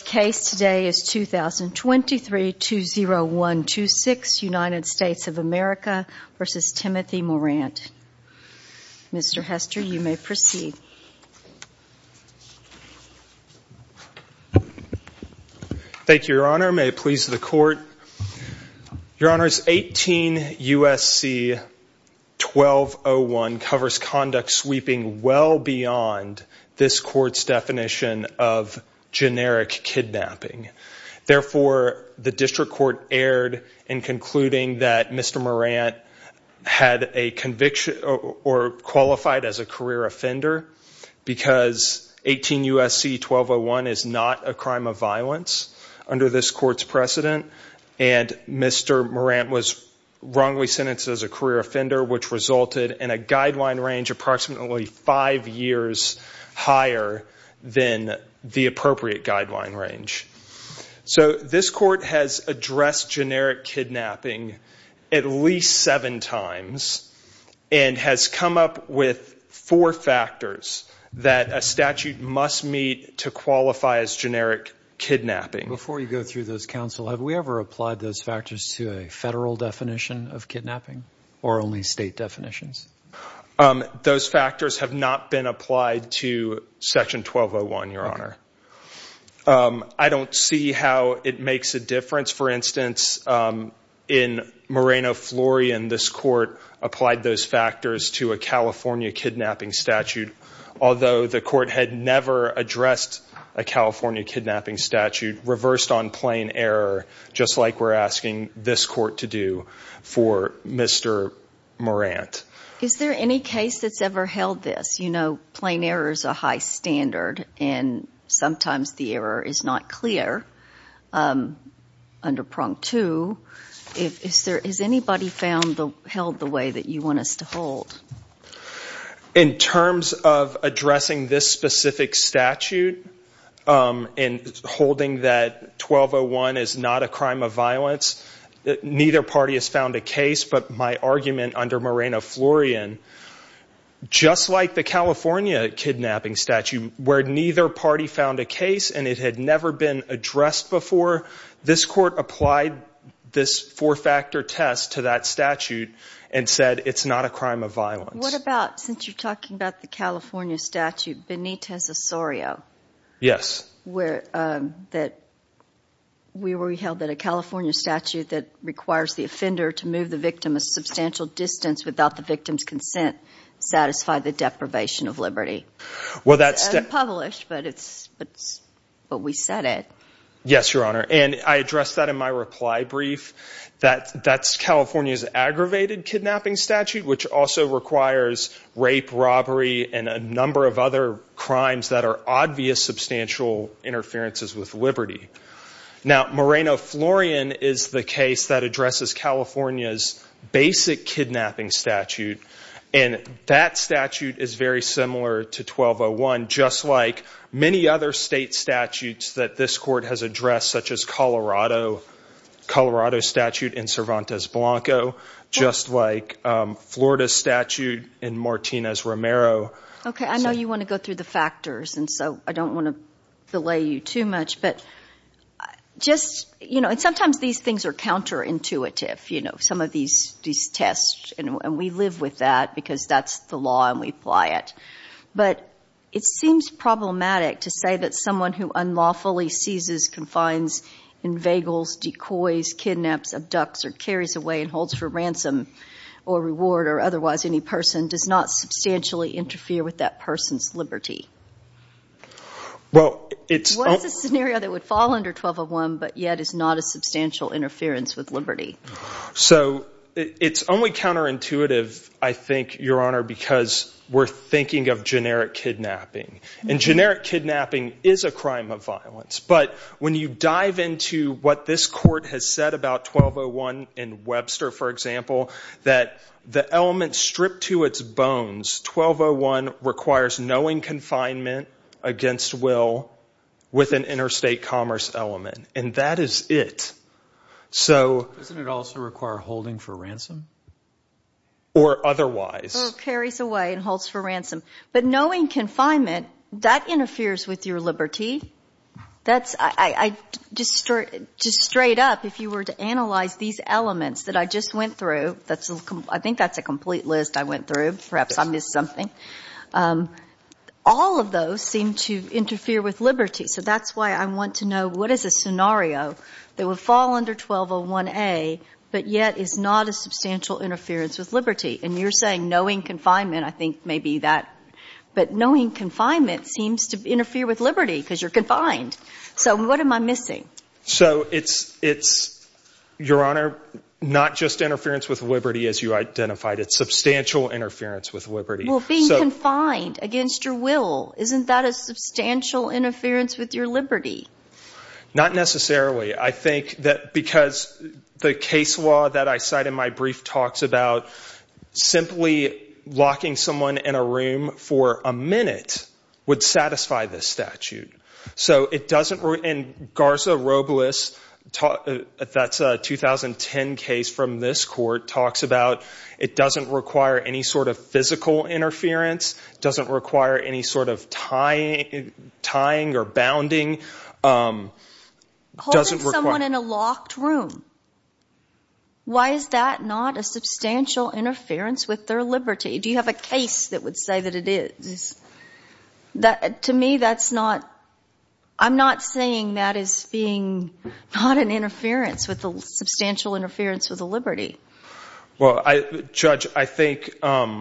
The case today is 2023-20126, United States of America v. Timothy Morant. Mr. Hester, you may proceed. Thank you, Your Honor. May it please the Court. Your Honor, 18 U.S.C. 1201 covers conduct sweeping well beyond this Court's definition of generic kidnapping. Therefore, the District Court erred in concluding that Mr. Morant had a conviction or qualified as a career offender because 18 U.S.C. 1201 is not a crime of violence under this Court's precedent and Mr. Morant was wrongly sentenced as a career offender which resulted in a guideline range approximately five years higher than the appropriate guideline range. So this Court has addressed generic kidnapping at least seven times and has come up with four factors that a statute must meet to qualify as generic kidnapping. Before you go through those, Counsel, have we ever applied those factors to a federal definition of kidnapping or only state definitions? Those factors have not been applied to Section 1201, Your Honor. I don't see how it makes a difference. For instance, in Moreno-Florian, this Court applied those factors to a California kidnapping statute although the Court had never addressed a California kidnapping statute reversed on this Court to do for Mr. Morant. Is there any case that's ever held this? You know, plain error is a high standard and sometimes the error is not clear under Prong 2. Has anybody held the way that you want us to hold? In terms of addressing this specific statute and holding that 1201 is not a crime of violence, neither party has found a case but my argument under Moreno-Florian, just like the California kidnapping statute where neither party found a case and it had never been addressed before, this Court applied this four-factor test to that statute and said it's not a crime of violence. What about, since you're talking about the California statute, Benitez-Osorio, that we were held that a California statute that requires the offender to move the victim a substantial distance without the victim's consent satisfied the deprivation of liberty? It's unpublished but we said it. Yes, Your Honor, and I addressed that in my reply brief. That's California's aggravated kidnapping statute which also requires rape, robbery, and a number of other crimes that are obvious substantial interferences with liberty. Now, Moreno-Florian is the case that addresses California's basic kidnapping statute and that statute is very similar to 1201 just like many other state statutes that this Court has addressed such as Colorado's statute in Cervantes-Blanco, just like Florida's statute in Martinez-Romero. Okay, I know you want to go through the factors and so I don't want to delay you too much but just, you know, and sometimes these things are counterintuitive, you know, some of these tests and we live with that because that's the law and we apply it. But it seems problematic to say that someone who unlawfully seizes, confines, inveigles, decoys, kidnaps, abducts, or carries away and holds for ransom or reward or otherwise any person does not substantially interfere with that person's liberty. Well, it's... What's a scenario that would fall under 1201 but yet is not a substantial interference with liberty? So, it's only counterintuitive, I think, Your Honor, because we're thinking of generic kidnapping and generic kidnapping is a crime of violence. But when you dive into what this Court has said about 1201 in Webster, for example, that the element stripped to its bones, 1201 requires knowing confinement against will with an interstate commerce element and that is it. So... Doesn't it also require holding for ransom? Or otherwise? Or carries away and holds for ransom. But knowing confinement, that interferes with your liberty. That's... I... Just straight up, if you were to analyze these elements that I just went through, that's a... I think that's a complete list I went through, perhaps I missed something. All of those seem to interfere with liberty, so that's why I want to know what is a scenario that would fall under 1201A but yet is not a substantial interference with liberty? And you're saying knowing confinement, I think, may be that. But knowing confinement seems to interfere with liberty because you're confined. So what am I missing? So it's... It's, Your Honor, not just interference with liberty as you identified, it's substantial interference with liberty. Well, being confined against your will, isn't that a substantial interference with your liberty? Not necessarily. I think that because the case law that I cite in my brief talks about simply locking someone in a room for a minute would satisfy this statute. So it doesn't... And Garza-Robles, that's a 2010 case from this court, talks about it doesn't require any sort of physical interference, doesn't require any sort of tying or bounding, doesn't require... Holding someone in a locked room, why is that not a substantial interference with their liberty? Do you have a case that would say that it is? To me, that's not... I'm not saying that is being not an interference with the substantial interference with the liberty. Well, Judge, I think a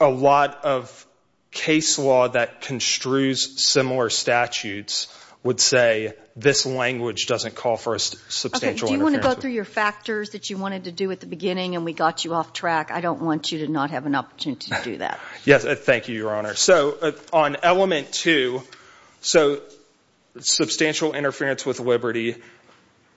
lot of case law that construes similar statutes would say this language doesn't call for a substantial interference. Okay. Do you want to go through your factors that you wanted to do at the beginning and we got you off track? I don't want you to not have an opportunity to do that. Yes. Thank you, Your Honor. So on element two, so substantial interference with liberty,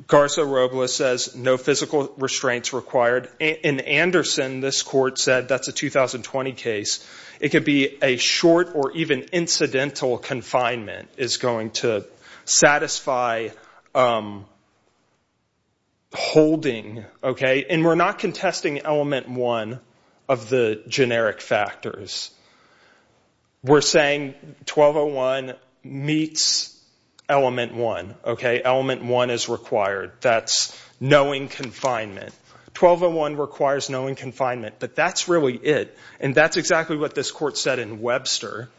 Garza-Robles says no physical restraints required. In Anderson, this court said that's a 2020 case. It could be a short or even incidental confinement is going to satisfy holding, okay? And we're not contesting element one of the generic factors. We're saying 1201 meets element one, okay? Element one is required. That's knowing confinement. 1201 requires knowing confinement, but that's really it. And that's exactly what this court said in Webster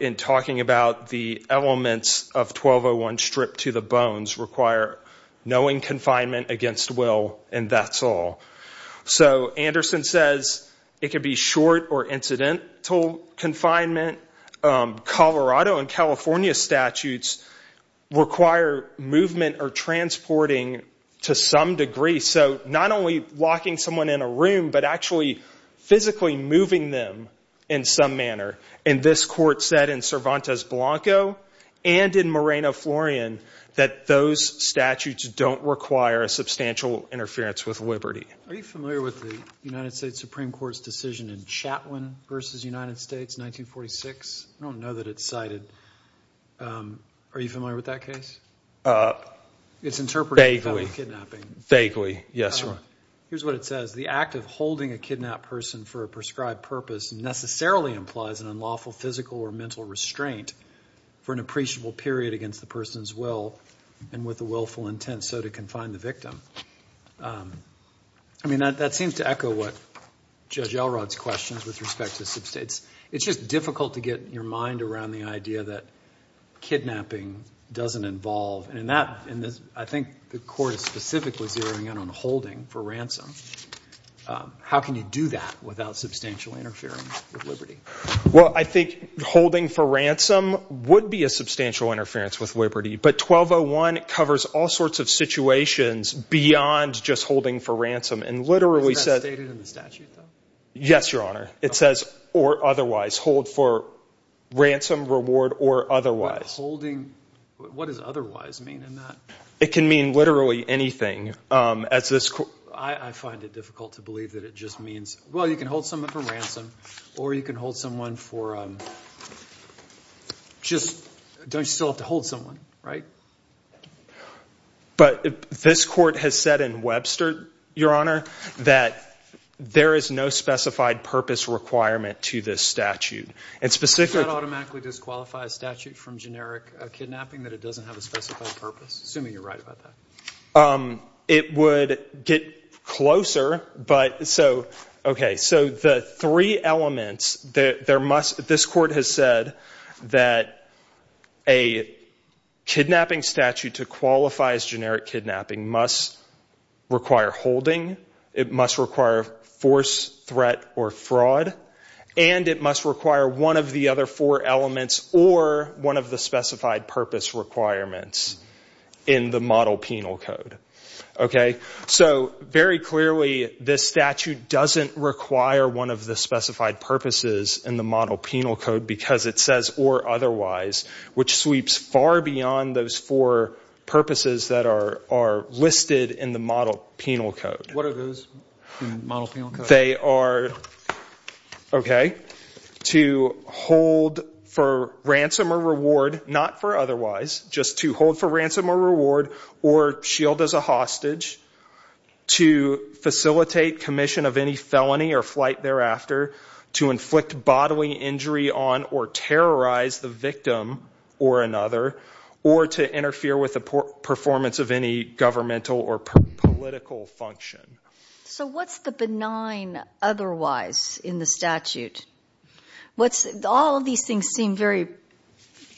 in talking about the elements of 1201 stripped to the bones require knowing confinement against will and that's all. So Anderson says it could be short or incidental confinement. Colorado and California statutes require movement or transporting to some degree. So not only locking someone in a room, but actually physically moving them in some manner. And this court said in Cervantes-Blanco and in Moreno-Florian that those statutes don't require a substantial interference with liberty. Are you familiar with the United States Supreme Court's decision in Chatwin versus United States? I don't know that it's cited. Are you familiar with that case? It's interpreted as kidnapping. Vaguely. Vaguely. Yes, Your Honor. Here's what it says. The act of holding a kidnapped person for a prescribed purpose necessarily implies an unlawful physical or mental restraint for an appreciable period against the person's will and with a willful intent so to confine the victim. That seems to echo what Judge Elrod's questions with respect to this. It's just difficult to get your mind around the idea that kidnapping doesn't involve. I think the court is specifically zeroing in on holding for ransom. How can you do that without substantial interference with liberty? Well, I think holding for ransom would be a substantial interference with liberty. But 1201 covers all sorts of situations beyond just holding for ransom. And literally says... Isn't that stated in the statute though? Yes, Your Honor. It says, or otherwise. Hold for ransom, reward, or otherwise. What does otherwise mean in that? It can mean literally anything. I find it difficult to believe that it just means, well, you can hold someone for ransom or you can hold someone for, just don't you still have to hold someone, right? But this court has said in Webster, Your Honor, that there is no specified purpose requirement to this statute. And specifically... Does that automatically disqualify a statute from generic kidnapping that it doesn't have a specified purpose? Assuming you're right about that. It would get closer, but so, okay. So the three elements, this court has said that a kidnapping statute to qualify as generic kidnapping must require holding. It must require force, threat, or fraud. And it must require one of the other four elements or one of the specified purpose requirements in the model penal code, okay? So very clearly, this statute doesn't require one of the specified purposes in the model penal code because it says, or otherwise, which sweeps far beyond those four purposes that are listed in the model penal code. What are those in the model penal code? They are, okay, to hold for ransom or reward, not for otherwise, just to hold for ransom or reward or shield as a hostage, to facilitate commission of any felony or flight thereafter, to inflict bodily injury on or terrorize the victim or another, or to interfere with the performance of any governmental or political function. So what's the benign otherwise in the statute? What's, all of these things seem very,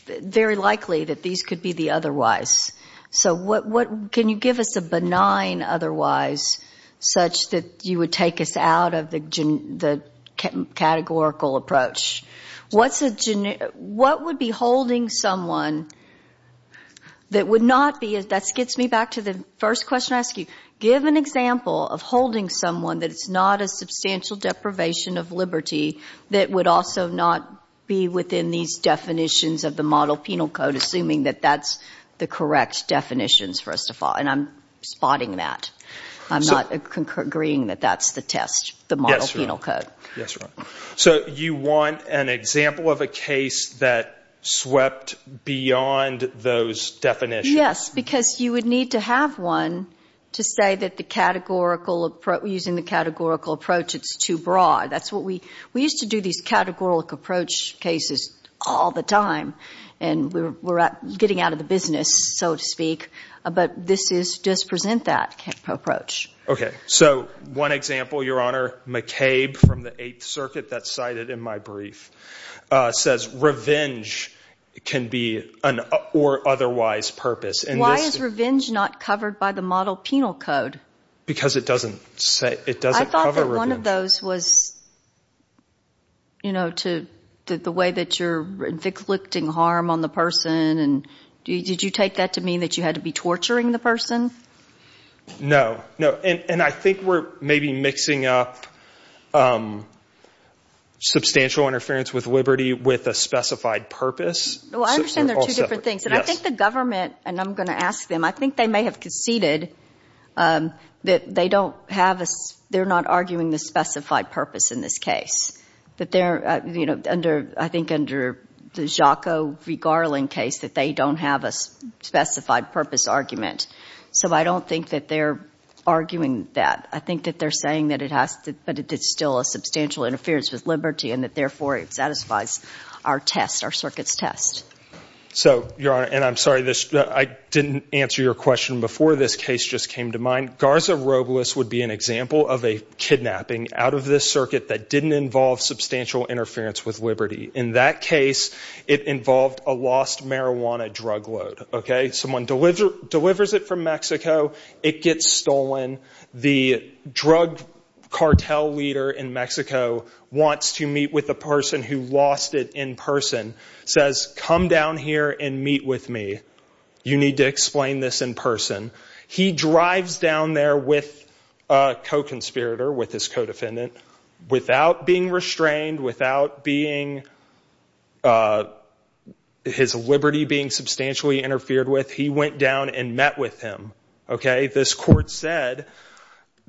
very likely that these could be the otherwise. So what, can you give us a benign otherwise such that you would take us out of the categorical approach? What's a, what would be holding someone that would not be, that gets me back to the first question I asked you, give an example of holding someone that is not a substantial deprivation of liberty that would also not be within these definitions of the model penal code, assuming that that's the correct definitions, first of all, and I'm spotting that. I'm not agreeing that that's the test, the model penal code. Yes, right. So you want an example of a case that swept beyond those definitions. Yes, because you would need to have one to say that the categorical, using the categorical approach, it's too broad. That's what we, we used to do these categorical approach cases all the time, and we're getting out of the business, so to speak, but this is, does present that approach. Okay. So one example, Your Honor, McCabe from the Eighth Circuit, that's cited in my brief, says revenge can be an, or otherwise purpose. Why is revenge not covered by the model penal code? Because it doesn't say, it doesn't cover revenge. I thought that one of those was, you know, to, the way that you're inflicting harm on the person, and did you take that to mean that you had to be torturing the person? No, no, and I think we're maybe mixing up substantial interference with liberty with a specified purpose. Well, I understand they're two different things, and I think the government, and I'm going to ask them, I think they may have conceded that they don't have a, they're not arguing the specified purpose in this case, that they're, you know, under, I think under the Jaco v. Garland case, that they don't have a specified purpose argument. So I don't think that they're arguing that. I think that they're saying that it has to, that it's still a substantial interference with liberty, and that therefore it satisfies our test, our circuit's test. So, Your Honor, and I'm sorry this, I didn't answer your question before this case just came to mind. Garza Robles would be an example of a kidnapping out of this circuit that didn't involve substantial interference with liberty. In that case, it involved a lost marijuana drug load, okay? Someone delivers it from Mexico, it gets stolen, the drug cartel leader in Mexico wants to come down here and meet with me. You need to explain this in person. He drives down there with a co-conspirator, with his co-defendant, without being restrained, without being, his liberty being substantially interfered with, he went down and met with him, okay? This court said,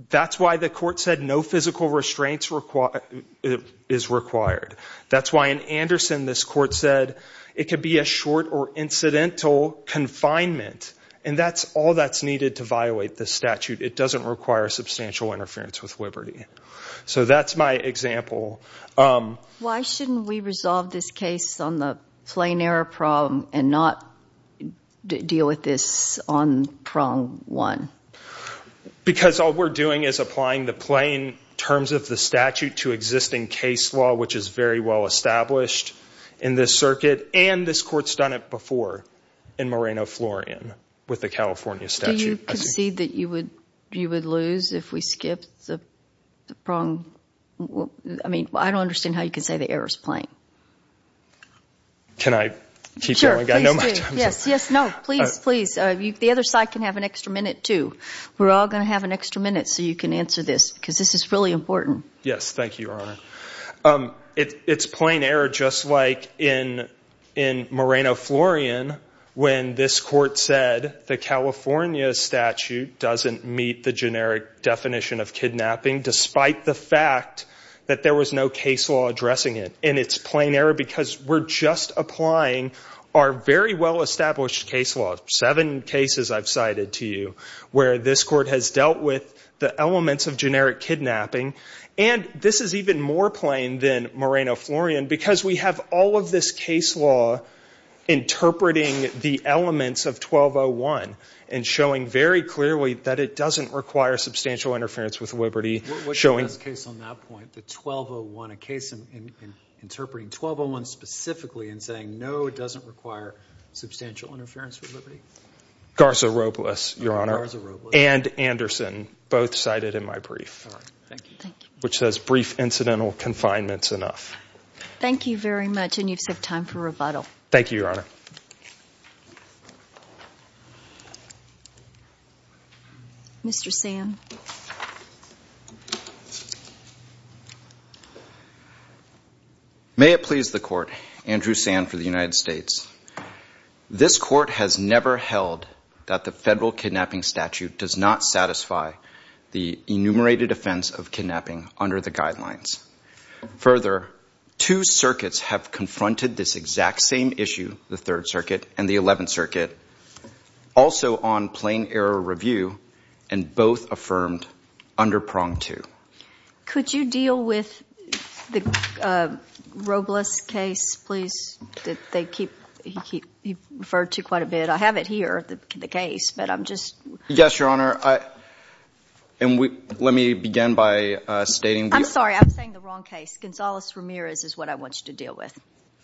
that's why the court said no physical restraints is required. That's why in Anderson this court said it could be a short or incidental confinement, and that's all that's needed to violate this statute. It doesn't require substantial interference with liberty. So that's my example. Why shouldn't we resolve this case on the plain error problem and not deal with this on prong one? Because all we're doing is applying the plain terms of the statute to existing case law, which is very well established in this circuit, and this court's done it before in Moreno Florian with the California statute. Do you concede that you would lose if we skipped the prong? I mean, I don't understand how you can say the error's plain. Can I keep going? Sure, please do. I know my time's up. Yes, yes, no. Please, please. The other side can have an extra minute too. We're all going to have an extra minute so you can answer this, because this is really important. Yes, thank you, Your Honor. It's plain error, just like in Moreno Florian, when this court said the California statute doesn't meet the generic definition of kidnapping, despite the fact that there was no case law addressing it. And it's plain error because we're just applying our very well-established case law, seven different cases I've cited to you, where this court has dealt with the elements of generic kidnapping. And this is even more plain than Moreno Florian because we have all of this case law interpreting the elements of 1201 and showing very clearly that it doesn't require substantial interference with liberty. What's the best case on that point, the 1201, a case interpreting 1201 specifically and saying, no, it doesn't require substantial interference with liberty? Garza Robles, Your Honor, and Anderson, both cited in my brief, which says brief incidental confinement's enough. Thank you very much, and you just have time for rebuttal. Thank you, Your Honor. Mr. Sand? May it please the Court, Andrew Sand for the United States. This court has never held that the federal kidnapping statute does not satisfy the enumerated offense of kidnapping under the guidelines. Further, two circuits have confronted this exact same issue, the Third Circuit and the under prong two. Could you deal with the Robles case, please? They keep referred to quite a bit. I have it here, the case, but I'm just— Yes, Your Honor. And let me begin by stating— I'm sorry, I'm saying the wrong case. Gonzales-Ramirez is what I want you to deal with.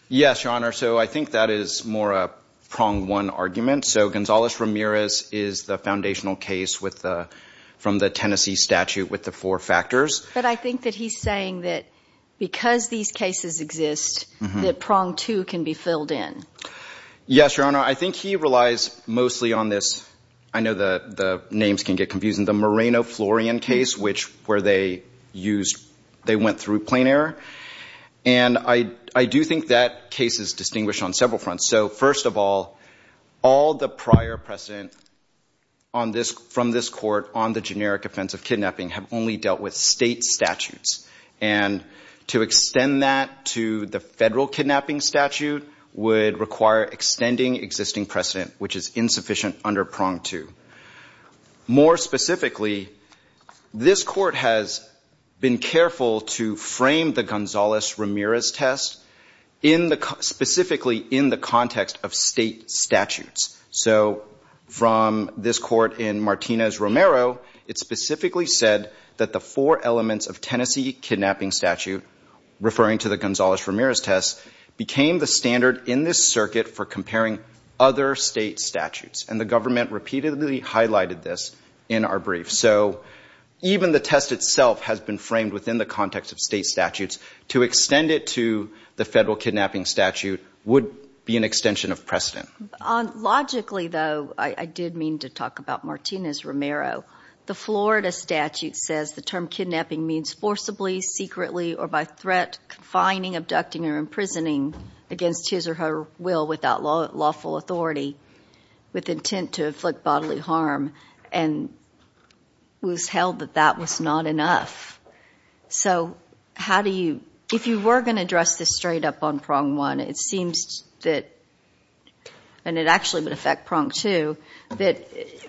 Yes, Your Honor. So I think that is more a prong one argument. So Gonzales-Ramirez is the foundational case from the Tennessee statute with the four factors. But I think that he's saying that because these cases exist, that prong two can be filled in. Yes, Your Honor. I think he relies mostly on this— I know the names can get confusing— the Moreno-Florian case, which where they used— they went through plain error. And I do think that case is distinguished on several fronts. So first of all, all the prior precedent from this court on the generic offense of kidnapping have only dealt with state statutes. And to extend that to the federal kidnapping statute would require extending existing precedent, which is insufficient under prong two. More specifically, this court has been careful to frame the Gonzales-Ramirez test specifically in the context of state statutes. So from this court in Martinez-Romero, it specifically said that the four elements of Tennessee kidnapping statute, referring to the Gonzales-Ramirez test, became the standard in this circuit for comparing other state statutes. And the government repeatedly highlighted this in our brief. So even the test itself has been framed within the context of state statutes. To extend it to the federal kidnapping statute would be an extension of precedent. Logically, though, I did mean to talk about Martinez-Romero. The Florida statute says the term kidnapping means forcibly, secretly, or by threat, confining, abducting, or imprisoning against his or her will without lawful authority with intent to inflict bodily harm. And it was held that that was not enough. So how do you, if you were going to address this straight up on prong one, it seems that, and it actually would affect prong two, that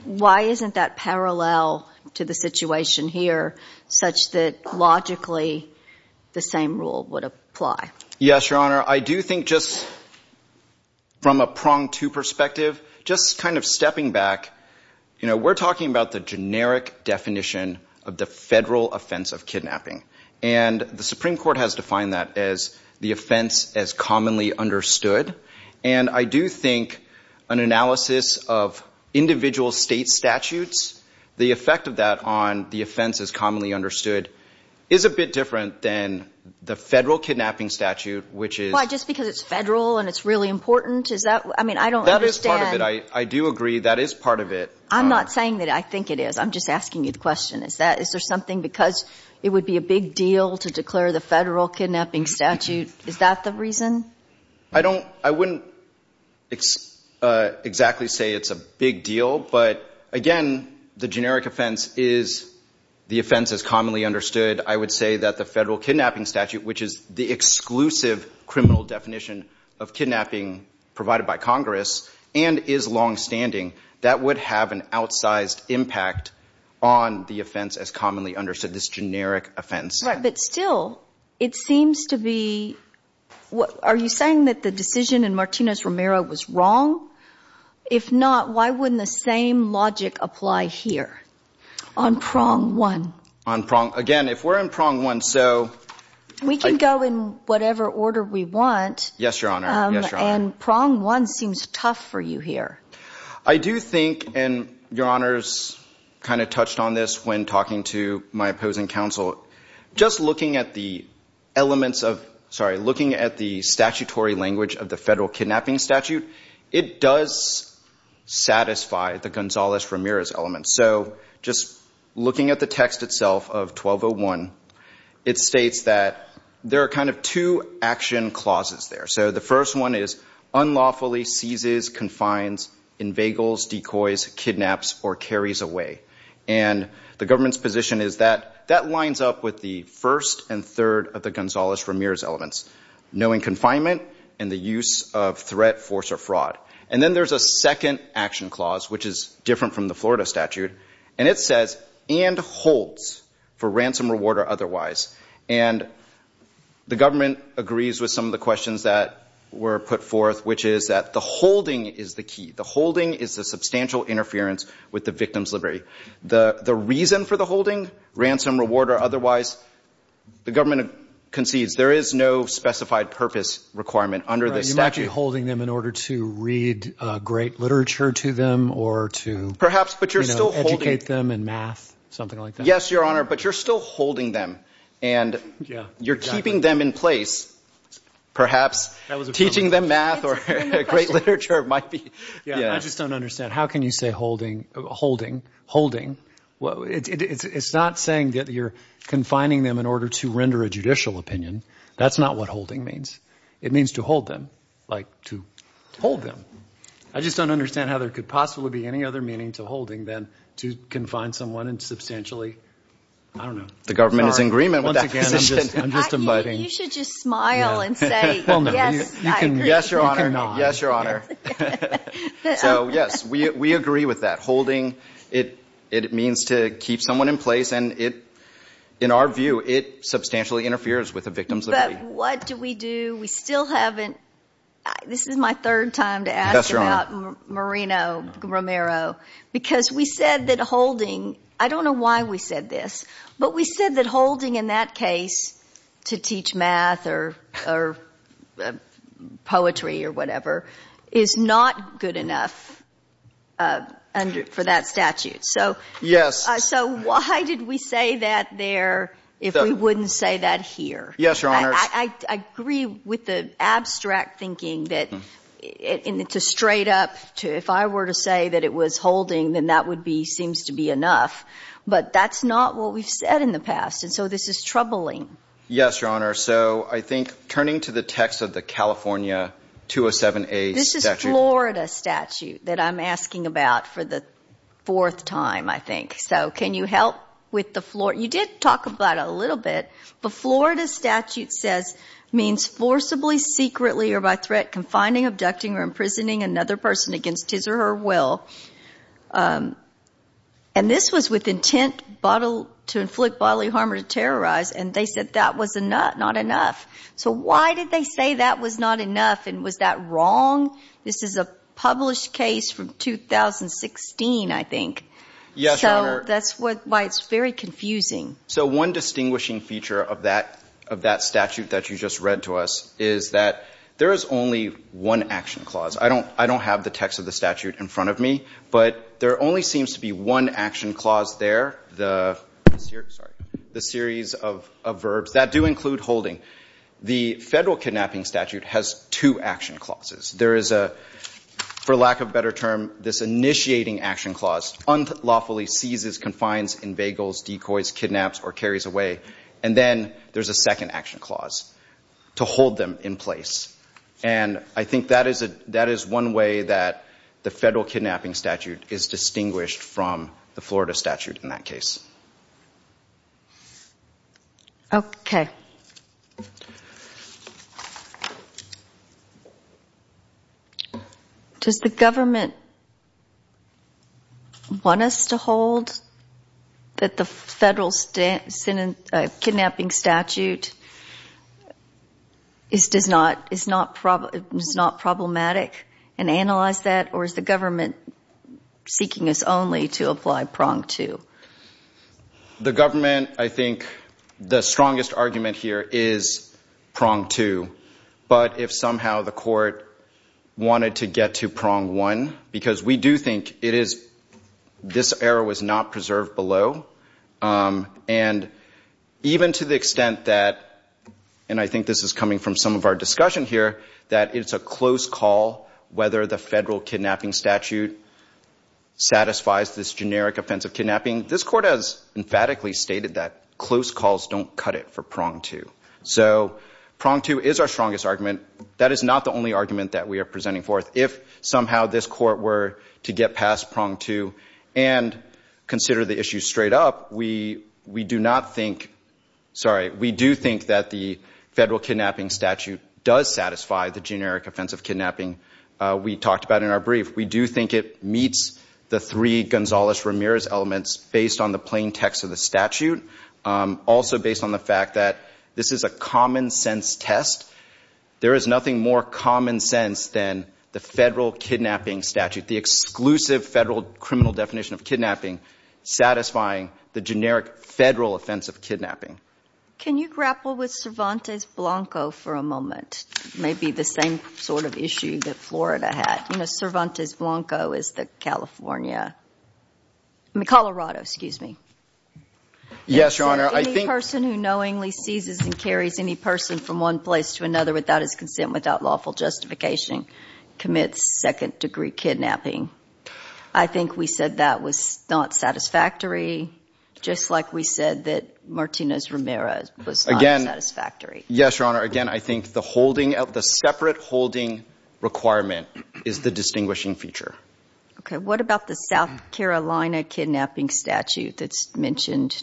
why isn't that parallel to the situation here such that logically the same rule would apply? Yes, Your Honor. I do think just from a prong two perspective, just kind of stepping back, you know, we're talking about the generic definition of the federal offense of kidnapping. And the Supreme Court has defined that as the offense as commonly understood. And I do think an analysis of individual state statutes, the effect of that on the offense as commonly understood is a bit different than the federal kidnapping statute, which is- Why? Just because it's federal and it's really important? Is that? I mean, I don't understand- That is part of it. I do agree that is part of it. I'm not saying that I think it is. I'm just asking you the question. Is there something because it would be a big deal to declare the federal kidnapping statute, is that the reason? I wouldn't exactly say it's a big deal, but again, the generic offense is the offense as commonly understood. I would say that the federal kidnapping statute, which is the exclusive criminal definition of kidnapping provided by Congress and is longstanding, that would have an outsized impact on the offense as commonly understood, this generic offense. Right. But still, it seems to be, are you saying that the decision in Martinez-Romero was wrong? If not, why wouldn't the same logic apply here on prong one? On prong, again, if we're in prong one, so- We can go in whatever order we want. Yes, Your Honor. Yes, Your Honor. And prong one seems tough for you here. I do think, and Your Honors kind of touched on this when talking to my opposing counsel, just looking at the elements of, sorry, looking at the statutory language of the federal kidnapping statute, it does satisfy the Gonzales-Ramirez elements. So just looking at the text itself of 1201, it states that there are kind of two action clauses there. So the first one is, unlawfully seizes, confines, inveigles, decoys, kidnaps, or carries away. And the government's position is that that lines up with the first and third of the Gonzales-Ramirez elements, knowing confinement and the use of threat, force, or fraud. And then there's a second action clause, which is different from the Florida statute, and it says, and holds for ransom, reward, or otherwise. And the government agrees with some of the questions that were put forth, which is that the holding is the key. The holding is the substantial interference with the victim's liberty. The reason for the holding, ransom, reward, or otherwise, the government concedes there is no specified purpose requirement under this statute. You might be holding them in order to read great literature to them or to educate them in math, something like that. Yes, Your Honor. But you're still holding them, and you're keeping them in place, perhaps, teaching them math or great literature, it might be. Yeah, I just don't understand. How can you say holding, holding, holding? It's not saying that you're confining them in order to render a judicial opinion. That's not what holding means. It means to hold them, like to hold them. I just don't understand how there could possibly be any other meaning to holding than to confine someone and substantially, I don't know. The government is in agreement with that position. You should just smile and say, yes, I agree, yes, Your Honor, yes, Your Honor. So yes, we agree with that. Holding, it means to keep someone in place, and in our view, it substantially interferes with the victim's liberty. But what do we do? We still haven't, this is my third time to ask about Moreno-Romero, because we said that holding, I don't know why we said this, but we said that holding in that case to teach math or poetry or whatever is not good enough for that statute. So why did we say that there if we wouldn't say that here? Yes, Your Honor. I agree with the abstract thinking that, and it's a straight up, if I were to say that it was holding, then that would be, seems to be enough. But that's not what we've said in the past, and so this is troubling. Yes, Your Honor. So I think, turning to the text of the California 207A statute. This is Florida statute that I'm asking about for the fourth time, I think. So can you help with the, you did talk about it a little bit, but Florida statute says, means forcibly, secretly, or by threat, confining, abducting, or imprisoning another person against his or her will. And this was with intent to inflict bodily harm or to terrorize, and they said that was not enough. So why did they say that was not enough, and was that wrong? This is a published case from 2016, I think. Yes, Your Honor. So that's why it's very confusing. So one distinguishing feature of that statute that you just read to us is that there is only one action clause. I don't have the text of the statute in front of me, but there only seems to be one action clause there, the series of verbs that do include holding. The federal kidnapping statute has two action clauses. There is a, for lack of a better term, this initiating action clause, unlawfully seizes, confines, inveigles, decoys, kidnaps, or carries away. And then there's a second action clause, to hold them in place. And I think that is one way that the federal kidnapping statute is distinguished from the Florida statute in that case. Okay. Does the government want us to hold that the federal kidnapping statute is not problematic and analyze that? Or is the government seeking us only to apply prong two? The government, I think the strongest argument here is prong two. But if somehow the court wanted to get to prong one, because we do think it is, this error was not preserved below. And even to the extent that, and I think this is coming from some of our discussion here, that it's a close call whether the federal kidnapping statute satisfies this generic offensive kidnapping. This court has emphatically stated that close calls don't cut it for prong two. So prong two is our strongest argument. That is not the only argument that we are presenting forth. If somehow this court were to get past prong two and consider the issue straight up, we do not think, sorry, we do think that the federal kidnapping statute does satisfy the generic offensive kidnapping we talked about in our brief. We do think it meets the three Gonzales-Ramirez elements based on the plain text of the statute. Also based on the fact that this is a common sense test. There is nothing more common sense than the federal kidnapping statute. The exclusive federal criminal definition of kidnapping satisfying the generic federal offensive kidnapping. Can you grapple with Cervantes-Blanco for a moment? Maybe the same sort of issue that Florida had. Cervantes-Blanco is the California, I mean Colorado, excuse me. Yes, Your Honor. Any person who knowingly seizes and carries any person from one place to another without his consent, without lawful justification, commits second degree kidnapping. I think we said that was not satisfactory, just like we said that Martinez-Ramirez was not satisfactory. Yes, Your Honor. Again, I think the holding of the separate holding requirement is the distinguishing feature. Okay. What about the South Carolina kidnapping statute that's mentioned?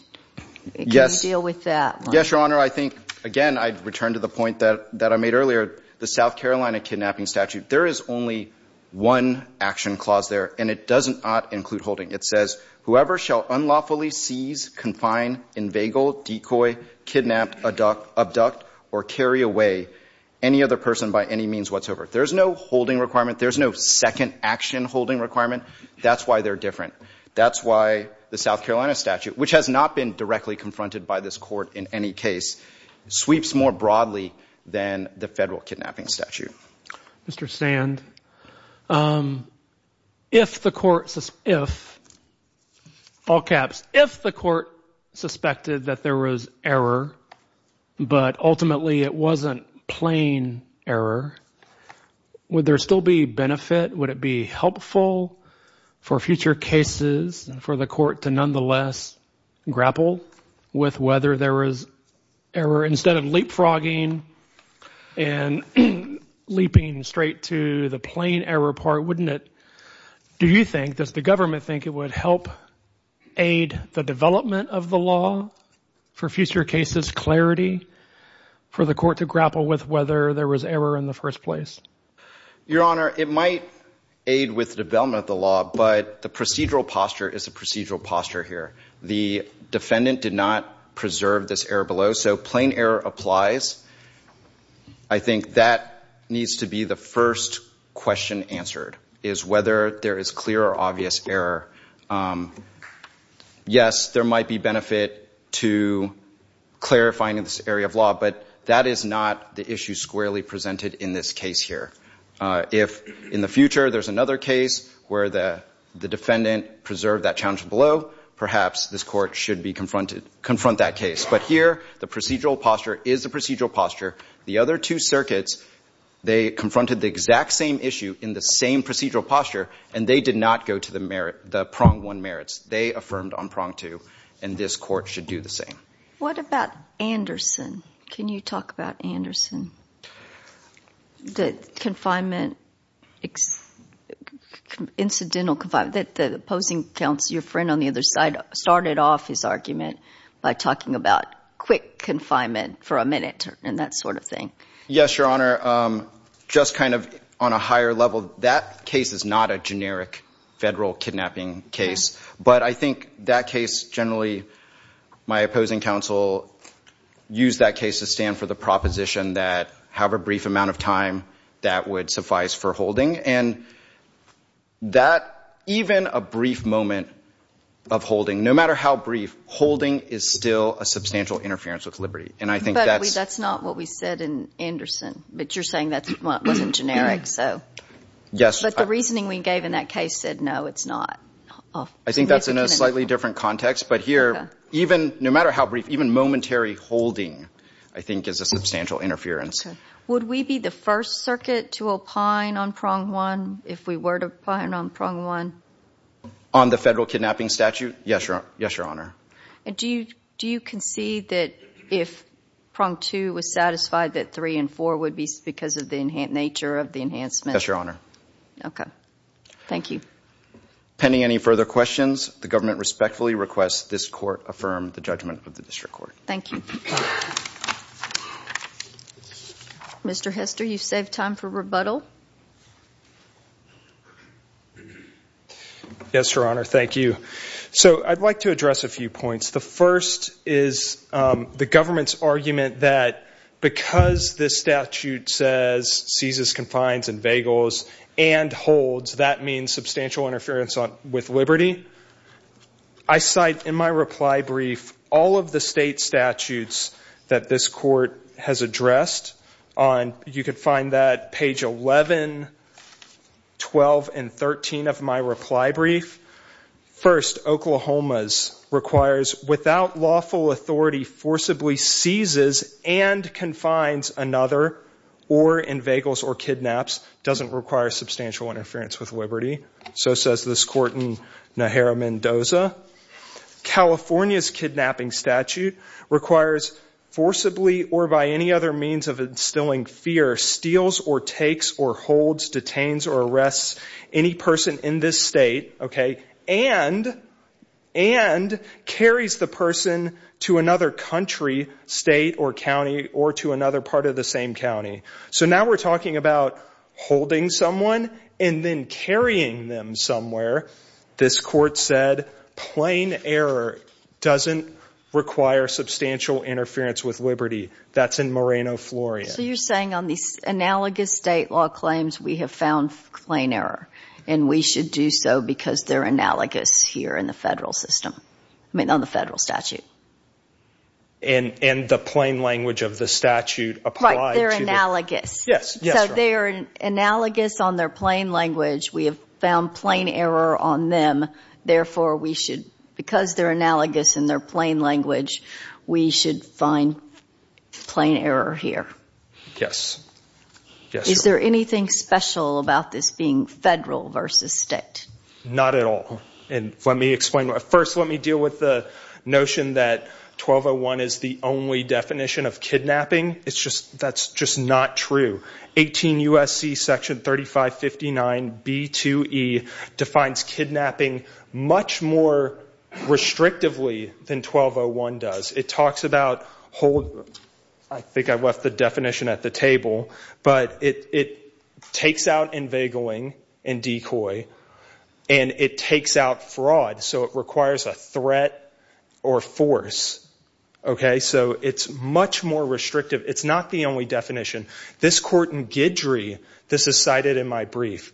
Yes. Can you deal with that? Yes, Your Honor. I think, again, I'd return to the point that I made earlier. The South Carolina kidnapping statute, there is only one action clause there and it doesn't not include holding. It says, whoever shall unlawfully seize, confine, inveigle, decoy, kidnap, abduct or carry away any other person by any means whatsoever. There's no holding requirement. There's no second action holding requirement. That's why they're different. That's why the South Carolina statute, which has not been directly confronted by this court in any case, sweeps more broadly than the federal kidnapping statute. Mr. Sand, if the court, all caps, if the court suspected that there was error, but ultimately it wasn't plain error, would there still be benefit? Would it be helpful for future cases for the court to nonetheless grapple with whether there was error instead of leapfrogging and leaping straight to the plain error part, wouldn't it? Do you think, does the government think it would help aid the development of the law for future cases, clarity for the court to grapple with whether there was error in the first place? Your Honor, it might aid with development of the law, but the procedural posture is a procedural posture here. The defendant did not preserve this error below, so plain error applies. I think that needs to be the first question answered, is whether there is clear or obvious error. Yes, there might be benefit to clarifying in this area of law, but that is not the issue squarely presented in this case here. If in the future there's another case where the defendant preserved that challenge below, perhaps this court should confront that case. But here, the procedural posture is a procedural posture. The other two circuits, they confronted the exact same issue in the same procedural posture, and they did not go to the prong one merits. They affirmed on prong two, and this court should do the same. What about Anderson? Can you talk about Anderson? The incidental confinement, the opposing counsel, your friend on the other side, started off his argument by talking about quick confinement for a minute and that sort of thing. Yes, Your Honor. Just kind of on a higher level, that case is not a generic federal kidnapping case, but I think that case generally, my opposing counsel used that case to stand for the proposition that however brief amount of time that would suffice for holding. And that, even a brief moment of holding, no matter how brief, holding is still a substantial interference with liberty. And I think that's... But that's not what we said in Anderson, but you're saying that wasn't generic, so... Yes. But the reasoning we gave in that case said, no, it's not. I think that's in a slightly different context, but here, even, no matter how brief, even substantial interference. Would we be the first circuit to opine on prong one, if we were to opine on prong one? On the federal kidnapping statute? Yes, Your Honor. And do you concede that if prong two was satisfied that three and four would be because of the nature of the enhancement? Yes, Your Honor. Okay. Thank you. Pending any further questions, the government respectfully requests this court affirm the judgment of the district court. Thank you. Mr. Hester, you've saved time for rebuttal. Yes, Your Honor. Thank you. So, I'd like to address a few points. The first is the government's argument that because this statute says, seizes, confines and vagals and holds, that means substantial interference with liberty. Secondly, I cite in my reply brief all of the state statutes that this court has addressed. You can find that page 11, 12 and 13 of my reply brief. First, Oklahoma's requires, without lawful authority, forcibly seizes and confines another or in vagals or kidnaps, doesn't require substantial interference with liberty. So says this court in Najera, Mendoza. California's kidnapping statute requires forcibly or by any other means of instilling fear, steals or takes or holds, detains or arrests any person in this state, okay, and, and carries the person to another country, state or county or to another part of the same county. So now we're talking about holding someone and then carrying them somewhere. This court said, plain error doesn't require substantial interference with liberty. That's in Moreno, Florida. So you're saying on these analogous state law claims, we have found plain error and we should do so because they're analogous here in the federal system, I mean, on the federal statute. And, and the plain language of the statute applied to the- Right, they're analogous. Yes. Yes. So they are analogous on their plain language. We have found plain error on them, therefore we should, because they're analogous in their plain language, we should find plain error here. Yes. Yes. Is there anything special about this being federal versus state? Not at all. And let me explain. First let me deal with the notion that 1201 is the only definition of kidnapping. It's just, that's just not true. 18 U.S.C. section 3559b2e defines kidnapping much more restrictively than 1201 does. It talks about hold, I think I left the definition at the table, but it, it takes out inveigling and decoy, and it takes out fraud, so it requires a threat or force, okay? So it's much more restrictive. It's not the only definition. This court in Guidry, this is cited in my brief,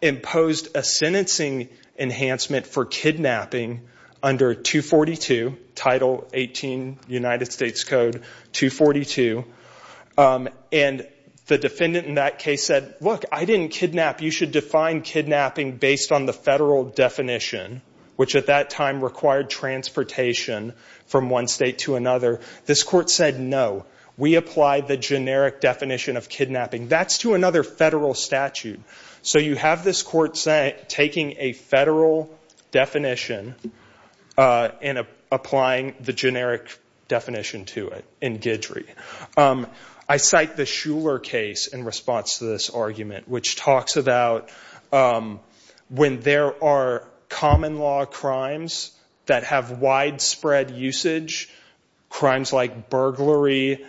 imposed a sentencing enhancement for kidnapping under 242, Title 18 United States Code 242, and the defendant in that case said, look, I didn't kidnap, you should define kidnapping based on the federal definition, which at that time required transportation from one state to another. This court said, no, we apply the generic definition of kidnapping. That's to another federal statute. So you have this court taking a federal definition and applying the generic definition to it in Guidry. I cite the Shuler case in response to this argument, which talks about when there are common law crimes that have widespread usage, crimes like burglary,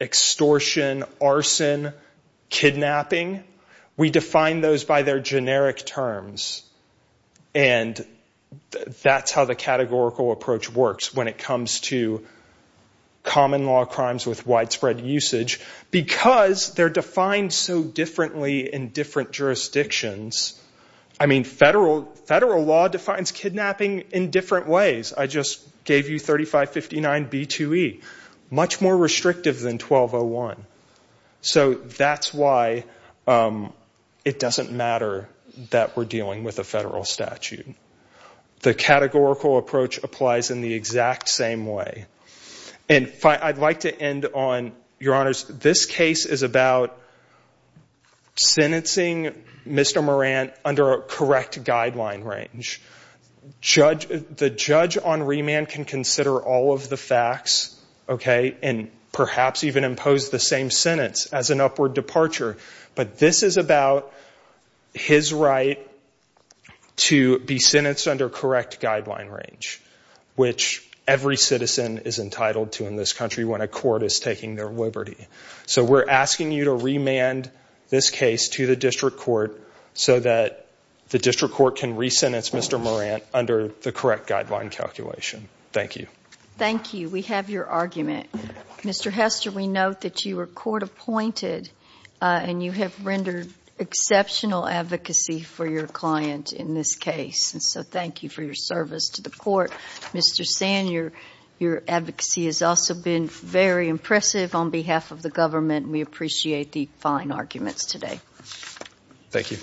extortion, arson, kidnapping, we define those by their generic terms, and that's how the categorical approach works when it comes to common law crimes with widespread usage, because they're defined so differently in different jurisdictions. I mean, federal law defines kidnapping in different ways. I just gave you 3559b2e. Much more restrictive than 1201. So that's why it doesn't matter that we're dealing with a federal statute. The categorical approach applies in the exact same way. And I'd like to end on, Your Honors, this case is about sentencing Mr. Morant under a correct guideline range. The judge on remand can consider all of the facts, okay, and perhaps even impose the same sentence as an upward departure. But this is about his right to be sentenced under correct guideline range, which every citizen is entitled to in this country when a court is taking their liberty. So we're asking you to remand this case to the district court so that the district court can re-sentence Mr. Morant under the correct guideline calculation. Thank you. Thank you. We have your argument. Mr. Hester, we note that you were court appointed and you have rendered exceptional advocacy for your client in this case. And so thank you for your service to the court. Mr. Sand, your advocacy has also been very impressive on behalf of the government. We appreciate the fine arguments today. Thank you.